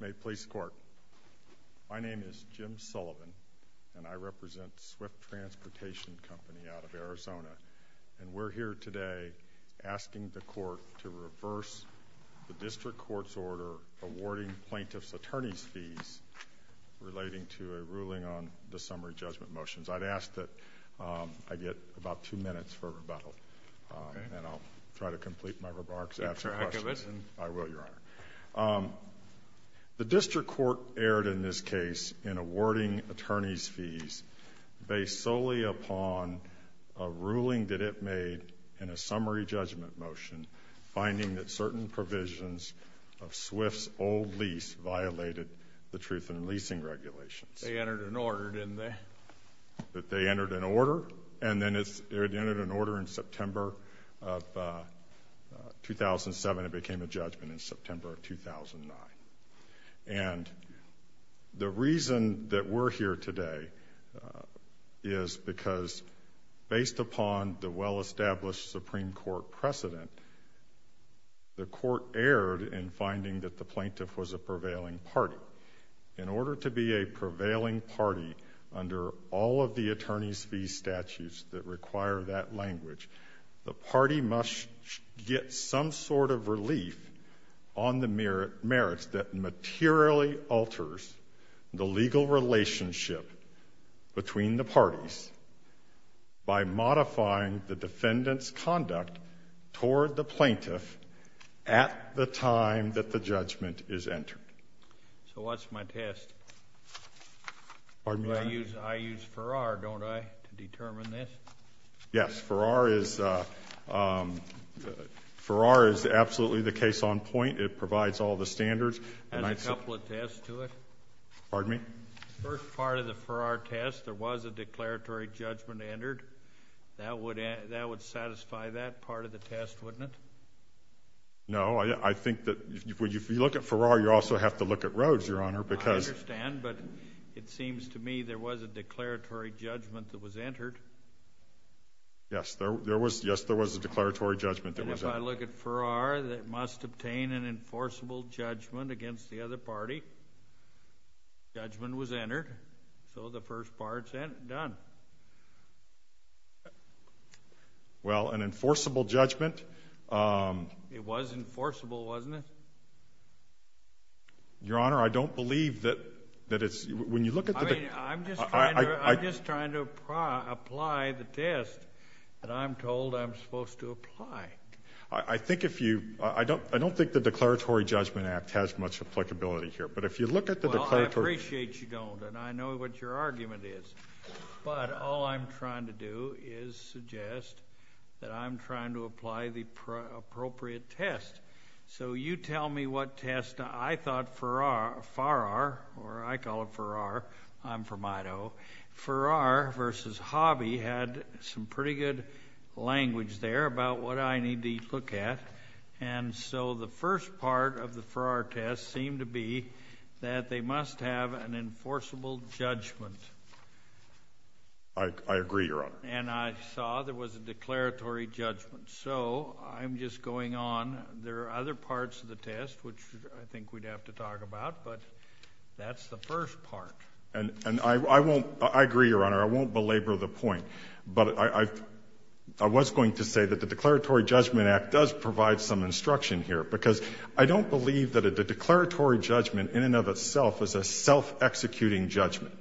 May it please the Court, my name is Jim Sullivan, and I represent Swift Transportation Co. out of Arizona, and we're here today asking the Court to reverse the District Court's order awarding plaintiffs' attorney's fees relating to a ruling on the summary judgment motions. I'd ask that I get about two minutes for rebuttal, and I'll try to complete my remarks after the question, and I will, Your Honor. The District Court erred in this case in awarding attorney's fees based solely upon a ruling that it made in a summary judgment motion finding that certain provisions of Swift's old lease violated the Truth in Leasing Regulations. They entered an order, didn't they? That they entered an order, and then it entered an order in September of 2007, and it became a judgment in September of 2009. And the reason that we're here today is because based upon the well-established Supreme Court precedent, the Court erred in finding that the plaintiff was a prevailing party. In order to be a prevailing party under all of the attorney's fee statutes that require that language, the party must get some sort of relief on the merits that materially alters the legal relationship between the parties by modifying the defendant's conduct toward the plaintiff at the time that the I use Farrar, don't I, to determine this? Yes. Farrar is absolutely the case on point. It provides all the standards. It has a couple of tests to it. Pardon me? The first part of the Farrar test, there was a declaratory judgment entered. That would satisfy that part of the test, wouldn't it? No. I think that if you look at Farrar, you also have to look at Rhodes, Your Honor, because I understand, but it seems to me there was a declaratory judgment that was entered. Yes, there was. Yes, there was a declaratory judgment that was entered. And if I look at Farrar, it must obtain an enforceable judgment against the other party. Judgment was entered. So the first part's done. Well, an enforceable judgment. It was enforceable, wasn't it? Your Honor, I don't believe that it's – when you look at the – I mean, I'm just trying to apply the test that I'm told I'm supposed to apply. I think if you – I don't think the Declaratory Judgment Act has much applicability here. But if you look at the declaratory – Well, I appreciate you don't, and I know what your argument is. But all I'm trying to do is suggest that I'm trying to apply the appropriate test. So you tell me what test. I thought Farrar – or I call it Farrar. I'm from Idaho. Farrar versus Hobby had some pretty good language there about what I need to look at. And so the first part of the Farrar test seemed to be that they must have an enforceable judgment. I agree, your Honor. And I saw there was a declaratory judgment. So I'm just going on. There are other parts of the test which I think we'd have to talk about, but that's the first part. And I won't – I agree, your Honor. I won't belabor the point. But I was going to say that the Declaratory Judgment Act does provide some instruction here, because I don't believe that a declaratory judgment in and of itself is a self-executing judgment.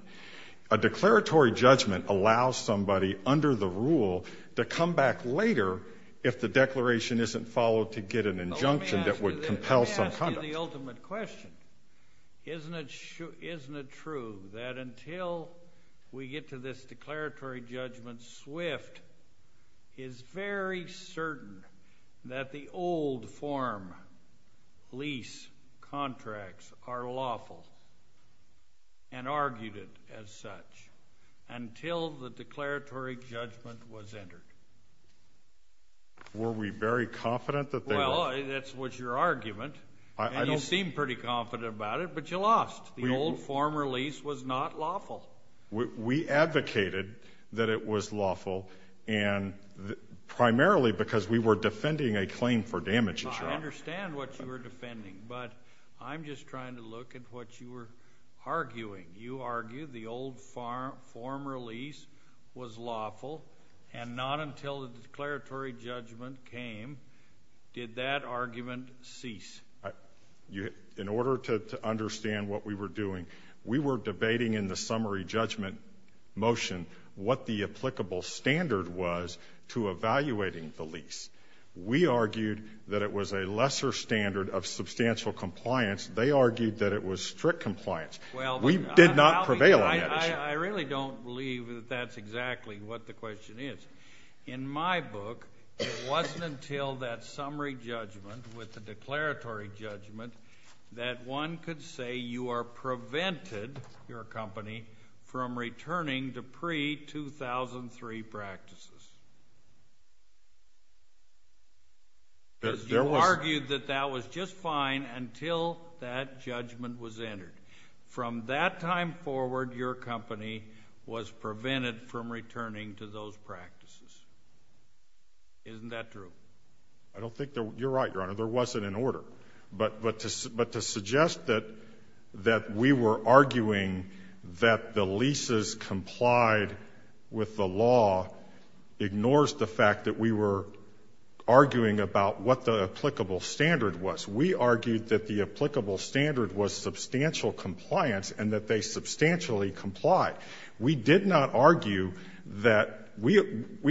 A declaratory judgment allows somebody under the rule to come back later if the declaration isn't followed to get an injunction that would compel some conduct. Let me ask you the ultimate question. Isn't it true that until we get to this declaratory judgment was not lawful? We advocated that it was lawful, and primarily because we were I'm just trying to look at what you were arguing. You argued the old form release was lawful, and not until the declaratory judgment came did that argument cease. In order to understand what we were doing, we were debating in the summary judgment motion what the applicable standard was to evaluating the lease. We argued that it was a lesser standard of substantial compliance. They argued that it was strict compliance. We did not prevail on that issue. I really don't believe that that's exactly what the question is. In my book, it wasn't until that summary judgment with the declaratory judgment that one could say you are prevented your company from returning to pre-2003 practices. You argued that that was just fine until that judgment was entered. From that time forward, your company was prevented from returning to those practices. Isn't that true? I don't think that you're right, Your Honor. There wasn't an order. But to suggest that we were arguing that the leases complied with the law ignores the fact that we were arguing about what the applicable standard was. We argued that the applicable standard was substantial compliance and that they substantially complied. We did not argue that we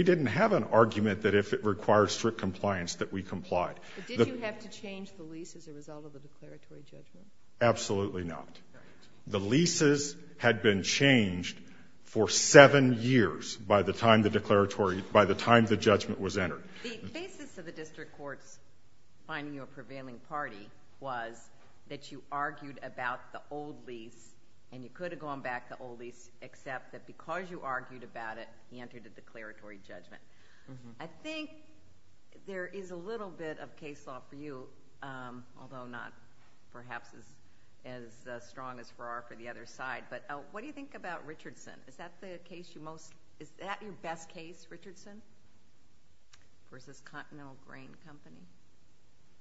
didn't have an argument that if it required strict compliance that we complied. Did you have to change the lease as a result of the declaratory judgment? Absolutely not. The leases had been changed for seven years by the time the judgment was entered. The basis of the district court's finding you a prevailing party was that you argued about the old lease and you could have gone back to the old lease except that because you argued about it, you entered a declaratory judgment. I think there is a little bit of case law for you, although not perhaps as strong as there are for the other side. What do you think about Richardson? Is that your best case, Richardson versus Continental Grain Company?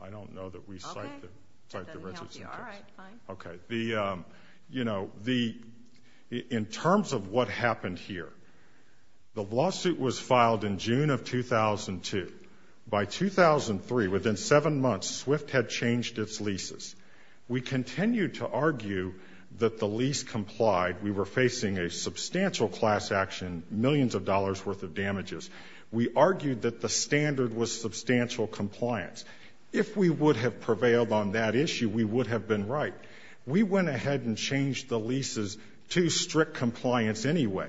I don't know that we cite the Richardson case. In terms of what happened here, the lawsuit was filed in June of 2002. By 2003, within seven months, Swift had changed its leases. We continued to argue that the lease complied. We were facing a substantial class action, millions of dollars worth of damages. We argued that the standard was substantial compliance. If we would have prevailed on that issue, we would have been right. We went ahead and changed the leases to strict compliance anyway.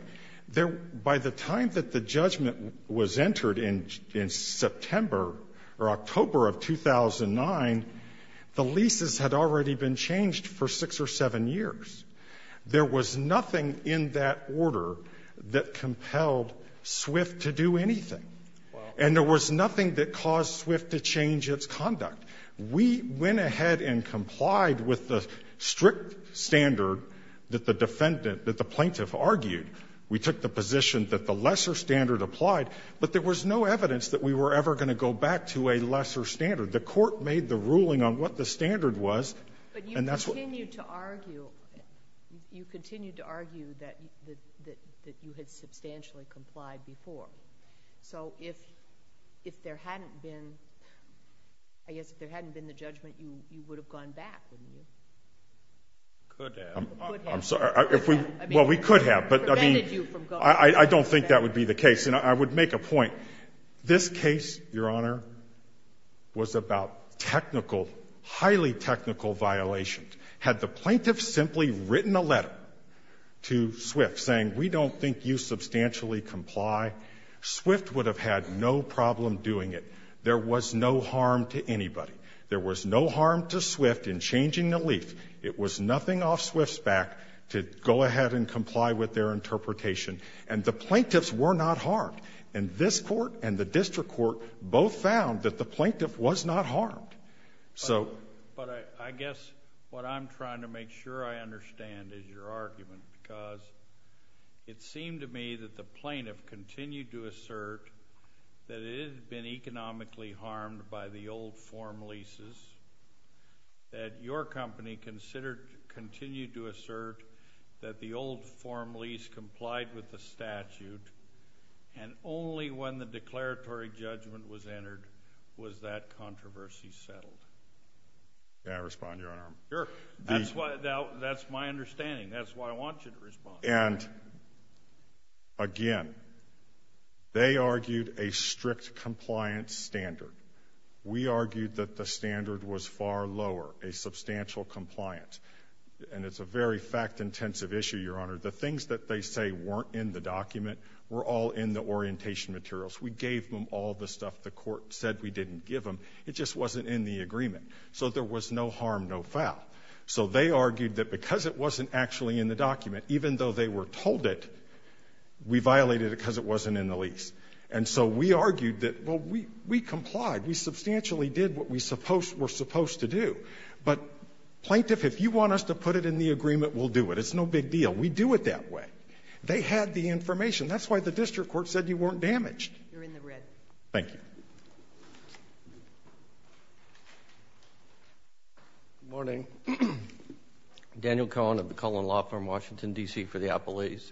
By the time that the judgment was entered in September or October of 2009, the leases had already been changed for six or seven years. There was nothing in that order that compelled Swift to do anything. And there was nothing that caused Swift to change its conduct. We went ahead and complied with the strict standard that the defendant, that the plaintiff argued. We took the position that the lesser standard applied, but there was no evidence that we were ever going to go back to a lesser standard. The Court made the ruling on what the standard was, and that's what we did. But you continued to argue that you had substantially complied before. So if there hadn't been, I guess if there hadn't been the judgment, you would have gone back, wouldn't you? Could have. Could have. I'm sorry. Well, we could have, but I mean, I don't think that would be the case. And I would make a point. This case, Your Honor, was about technical, highly technical violations. Had the plaintiff simply written a letter to Swift saying, we don't think you substantially comply, Swift would have had no problem doing it. There was no harm to anybody. There was no harm to Swift in changing the leaf. It was nothing off Swift's back to go ahead and comply with their interpretation. And the plaintiffs were not harmed. And this Court and the district court both found that the plaintiff was not harmed. So But I guess what I'm trying to make sure I understand is your argument, because it seemed to me that the plaintiff continued to assert that it had been economically harmed by the old form leases, that your company considered, continued to assert that the old form lease complied with the statute, and only when the declaratory judgment was entered was that controversy settled. May I respond, Your Honor? Sure. That's why, that's my understanding. That's why I want you to respond. And, again, they argued a strict compliance standard. We argued that the standard was far lower, a substantial compliance. And it's a very fact-intensive issue, Your Honor. The things that they say weren't in the document were all in the orientation materials. We gave them all the stuff the Court said we didn't give them. It just wasn't in the agreement. So there was no harm, no foul. So they argued that because it wasn't actually in the document, even though they were told it, we violated it because it wasn't in the lease. And so we argued that, well, we complied. We substantially did what we were supposed to do. But plaintiff, if you want us to put it in the agreement, we'll do it. It's no big deal. We do it that way. They had the information. That's why the district court said you weren't damaged. You're in the red. Thank you. Good morning. Daniel Cohen of the Cullen Law Firm, Washington, D.C., for the Appalachians.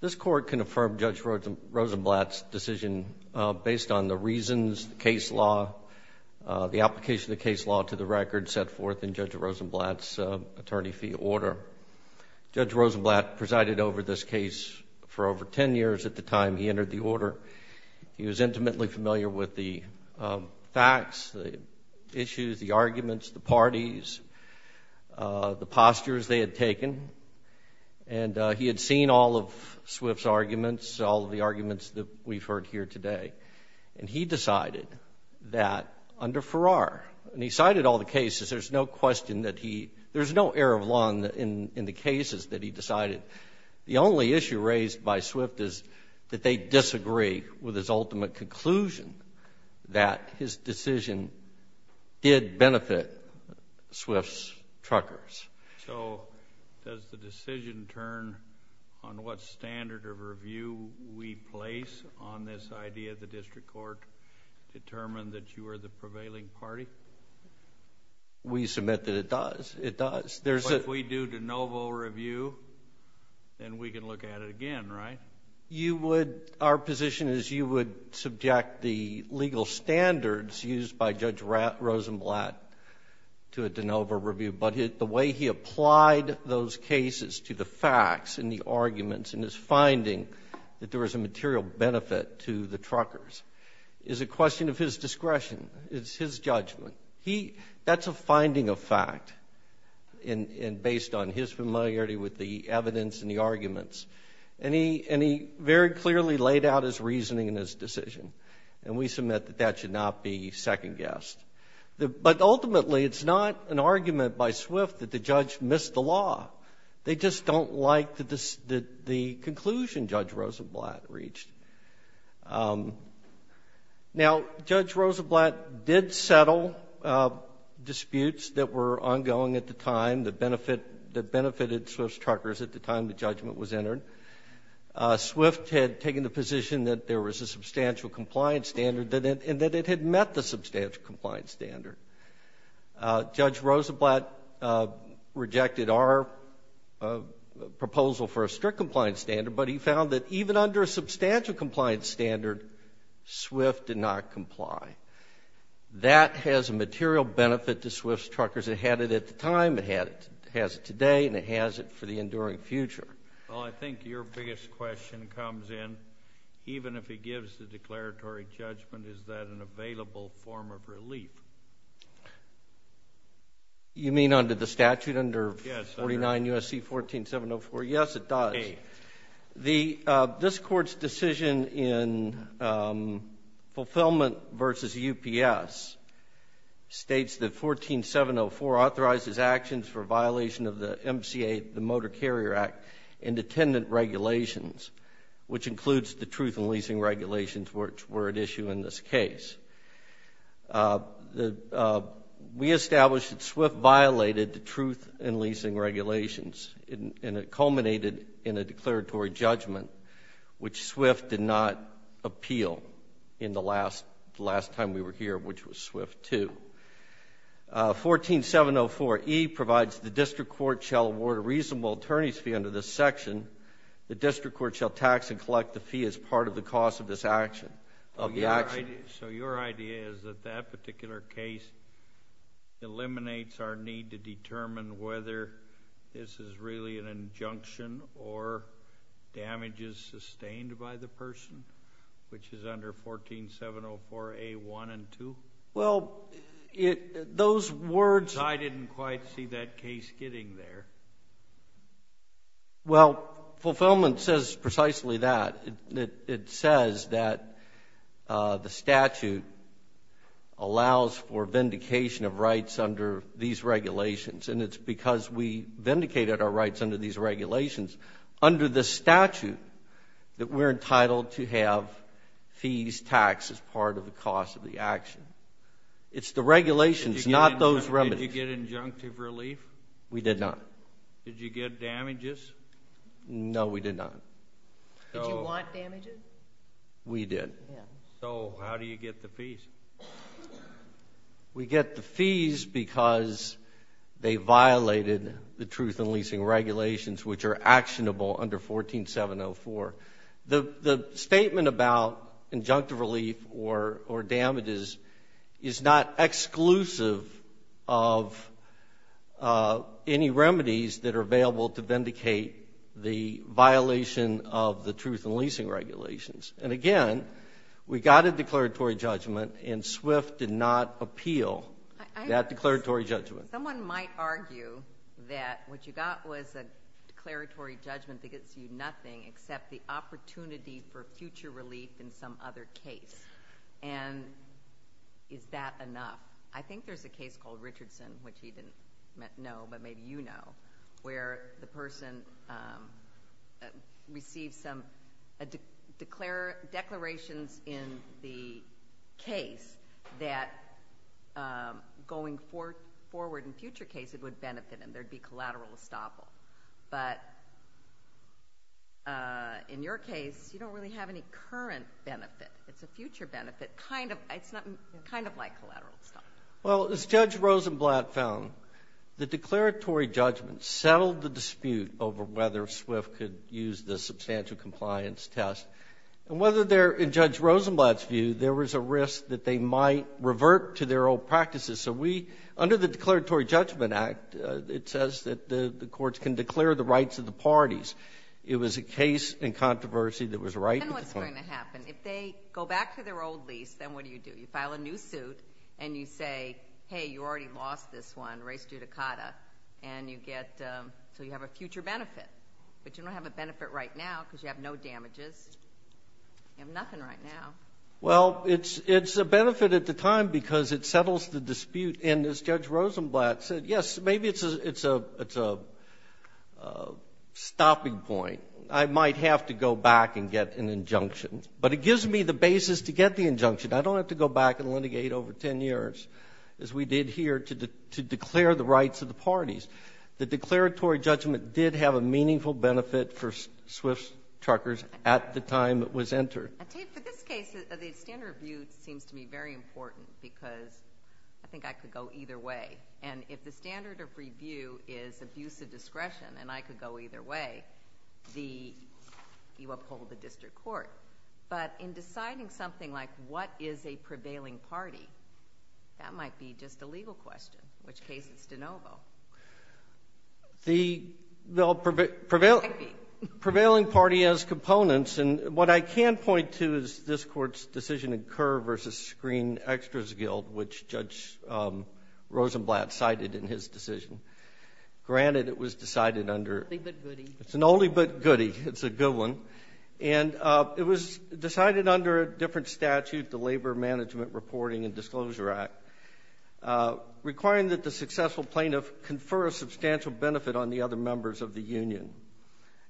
This Court confirmed Judge Rosenblatt's decision based on the reasons, the case law, the application of the case law to the record set forth in Judge Rosenblatt's attorney fee order. Judge Rosenblatt presided over this case for over ten years at the time he was intimately familiar with the facts, the issues, the arguments, the parties, the postures they had taken. And he had seen all of Swift's arguments, all of the arguments that we've heard here today. And he decided that under Farrar, and he cited all the cases, there's no question that he, there's no air of lung in the cases that he decided. The only issue raised by Swift is that they disagree with his ultimate conclusion that his decision did benefit Swift's truckers. So does the decision turn on what standard of review we place on this idea of the district court to determine that you are the prevailing party? We submit that it does. It does. But if we do de novo review, then we can look at it again, right? You would, our position is you would subject the legal standards used by Judge Rosenblatt to a de novo review. But the way he applied those cases to the facts and the arguments and his finding that there was a material benefit to the truckers is a question of his and based on his familiarity with the evidence and the arguments. And he very clearly laid out his reasoning and his decision. And we submit that that should not be second-guessed. But ultimately, it's not an argument by Swift that the judge missed the law. They just don't like the conclusion Judge Rosenblatt reached. Now, Judge Rosenblatt did settle disputes that were ongoing at the time that benefit the benefited Swift's truckers at the time the judgment was entered. Swift had taken the position that there was a substantial compliance standard and that it had met the substantial compliance standard. Judge Rosenblatt rejected our proposal for a strict compliance standard, but he found that even under a substantial compliance standard, Swift did not comply. That has a material benefit to Swift's truckers. It had it at the time, it has it today, and it has it for the enduring future. Well, I think your biggest question comes in, even if he gives the declaratory judgment, is that an available form of relief? You mean under the statute, under 49 U.S.C. 14704? Yes, it does. This Court's decision in Fulfillment v. UPS states that 14704 authorizes actions for violation of the MCA, the Motor Carrier Act, and attendant regulations, which includes the truth in leasing regulations which were at issue in this case. We established that Swift violated the truth in leasing regulations, and it culminated in a declaratory judgment, which Swift did not appeal in the last time we were here, which was Swift 2. 14704E provides the District Court shall award a reasonable attorney's fee under this section. The District Court shall tax and collect the fee as part of the cost of this action, of the action. So your idea is that that particular case eliminates our need to determine whether this is really an injunction or damage is sustained by the person, which is under 14704A1 and 2? Well, those words— I didn't quite see that case getting there. Well, Fulfillment says precisely that. It says that the statute allows for vindication of rights under these regulations, and it's our rights under these regulations, under the statute, that we're entitled to have fees taxed as part of the cost of the action. It's the regulations, not those remedies. Did you get injunctive relief? We did not. Did you get damages? No, we did not. We did. So how do you get the fees? We get the fees because they violated the truth-in-leasing regulations, which are actionable under 14704. The statement about injunctive relief or damages is not exclusive of any remedies that are available to vindicate the violation of the truth-in-leasing regulations. And again, we got a declaratory judgment, and Swift did not appeal that declaratory judgment. Someone might argue that what you got was a declaratory judgment that gets you nothing except the opportunity for future relief in some other case, and is that enough? I think there's a case called Richardson, which he didn't know, but maybe you know, where the person received some declarations in the case that going forward in future cases would benefit him. There'd be collateral estoppel. But in your case, you don't really have any current benefit. It's a future benefit, kind of like collateral estoppel. Well, as Judge Rosenblatt found, the declaratory judgment settled the dispute over whether Swift could use the substantial compliance test. And whether there, in Judge Rosenblatt's view, there was a risk that they might revert to their old practices. So we, under the Declaratory Judgment Act, it says that the courts can declare the rights of the parties. It was a case in controversy that was right. Then what's going to happen? If they go back to their old lease, then what do you do? You file a new suit, and you say, hey, you already lost this one, res judicata, and you get, so you have a future benefit. But you don't have a benefit right now, because you have no damages. You have nothing right now. Well, it's a benefit at the time, because it settles the dispute. And as Judge Rosenblatt said, yes, maybe it's a stopping point. I might have to go back and get an injunction. But it gives me the basis to get the injunction. I don't have to go back and litigate over 10 years, as we did here, to declare the rights of the parties. The declaratory judgment did have a meaningful benefit for swift truckers at the time it was entered. For this case, the standard of review seems to be very important, because I think I could go either way. And if the standard of review is abuse of discretion, and I could go either way, you uphold the district court. But in deciding something like what is a prevailing party, that might be just a legal question. In which case, it's de novo. The prevailing party has components. And what I can point to is this Court's decision in Kerr v. Screen Extras Guild, which Judge Rosenblatt cited in his decision. Granted, it was decided under— It's an only but goodie. It's an only but goodie. It's a good one. And it was decided under a different statute, the Labor Management Reporting and Disclosure Act, requiring that the successful plaintiff confer a substantial benefit on the other members of the union.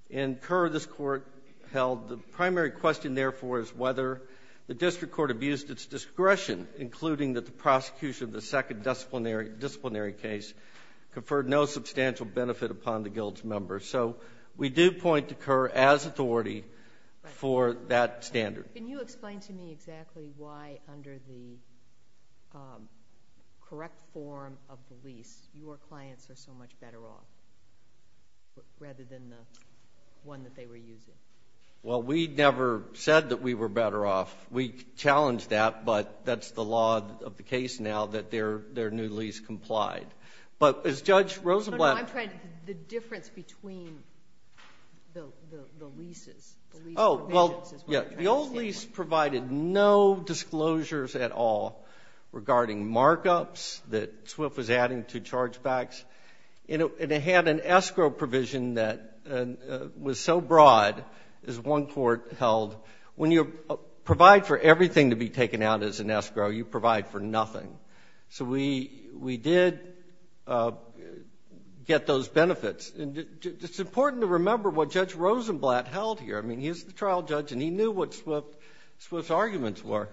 In Kerr, this Court held the primary question, therefore, is whether the district court abused its discretion, including that the prosecution of the second disciplinary case conferred no substantial benefit upon the guild's members. So we do point to Kerr as authority for that standard. Can you explain to me exactly why, under the correct form of the lease, your clients are so much better off, rather than the one that they were using? Well, we never said that we were better off. We challenged that, but that's the law of the case now, that their new lease complied. But as Judge Rosenblatt— No, no, no. I'm trying to—the difference between the leases, the lease provisions— Oh, well, yeah. The old lease provided no disclosures at all regarding markups that Swift was adding to chargebacks. And it had an escrow provision that was so broad, as one court held, when you provide for everything to be taken out as an escrow, you provide for nothing. So we did get those benefits. And it's important to remember what Judge Rosenblatt held here. I mean, he's the trial judge, and he knew what Swift's arguments were.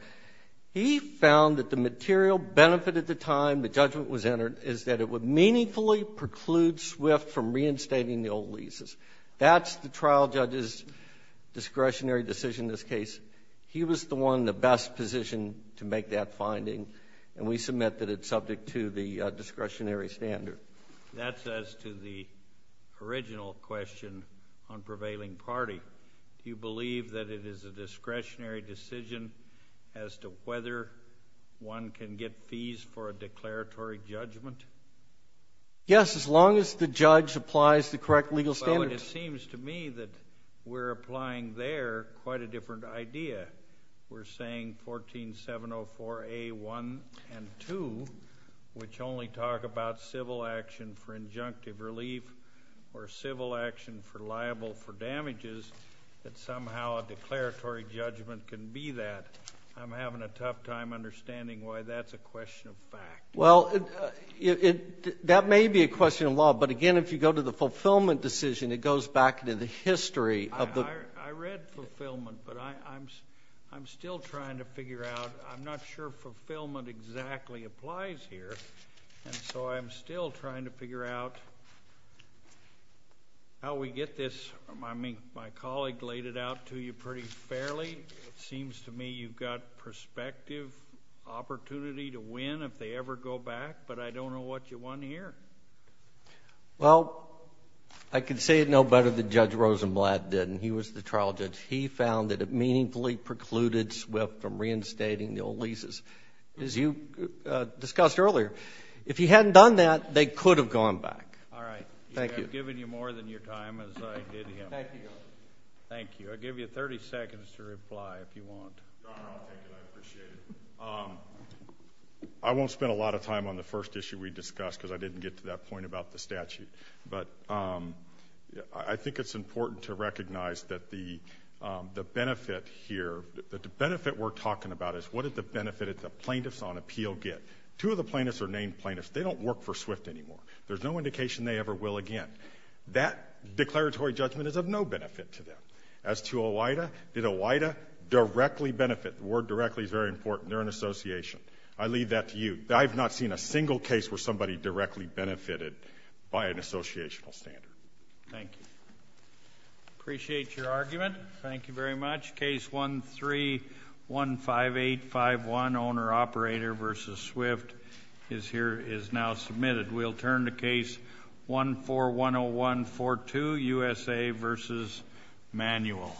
He found that the material benefit at the time the judgment was entered is that it would meaningfully preclude Swift from reinstating the old leases. That's the trial judge's discretionary decision in this case. He was the one in the best position to make that finding. And we submit that it's subject to the discretionary standard. That's as to the original question on prevailing party. Do you believe that it is a discretionary decision as to whether one can get fees for a declaratory judgment? Yes, as long as the judge applies the correct legal standards. Well, it seems to me that we're applying there quite a different idea. We're saying 14704A1 and 2, which only talk about civil action for injunctive relief or civil action for liable for damages, that somehow a declaratory judgment can be that. I'm having a tough time understanding why that's a question of fact. Well, that may be a question of law. But again, if you go to the fulfillment decision, it goes back to the history of the I read fulfillment, but I'm still trying to figure out. I'm not sure fulfillment exactly applies here. And so I'm still trying to figure out how we get this. I mean, my colleague laid it out to you pretty fairly. It seems to me you've got prospective opportunity to win if they ever go back. But I don't know what you want here. Well, I can say it no better than Judge Rosenblatt did, and he was the trial judge. He found that it meaningfully precluded SWIFT from reinstating the old leases. As you discussed earlier, if he hadn't done that, they could have gone back. All right. Thank you. I've given you more than your time, as I did him. Thank you. Thank you. I'll give you 30 seconds to reply if you want. Your Honor, I'll take it. I appreciate it. I won't spend a lot of time on the first issue we discussed because I didn't get to that point about the statute. But I think it's important to recognize that the benefit here, the benefit we're talking about is what did the benefit of the plaintiffs on appeal get. Two of the plaintiffs are named plaintiffs. They don't work for SWIFT anymore. There's no indication they ever will again. That declaratory judgment is of no benefit to them. As to OIDA, did OIDA directly benefit? The word directly is very important. They're an association. I leave that to you. I've not seen a single case where somebody directly benefited by an associational standard. Thank you. Appreciate your argument. Thank you very much. Case 13-15851, Owner-Operator v. SWIFT, is now submitted. We'll turn to case 14-10142, USA v. Manual.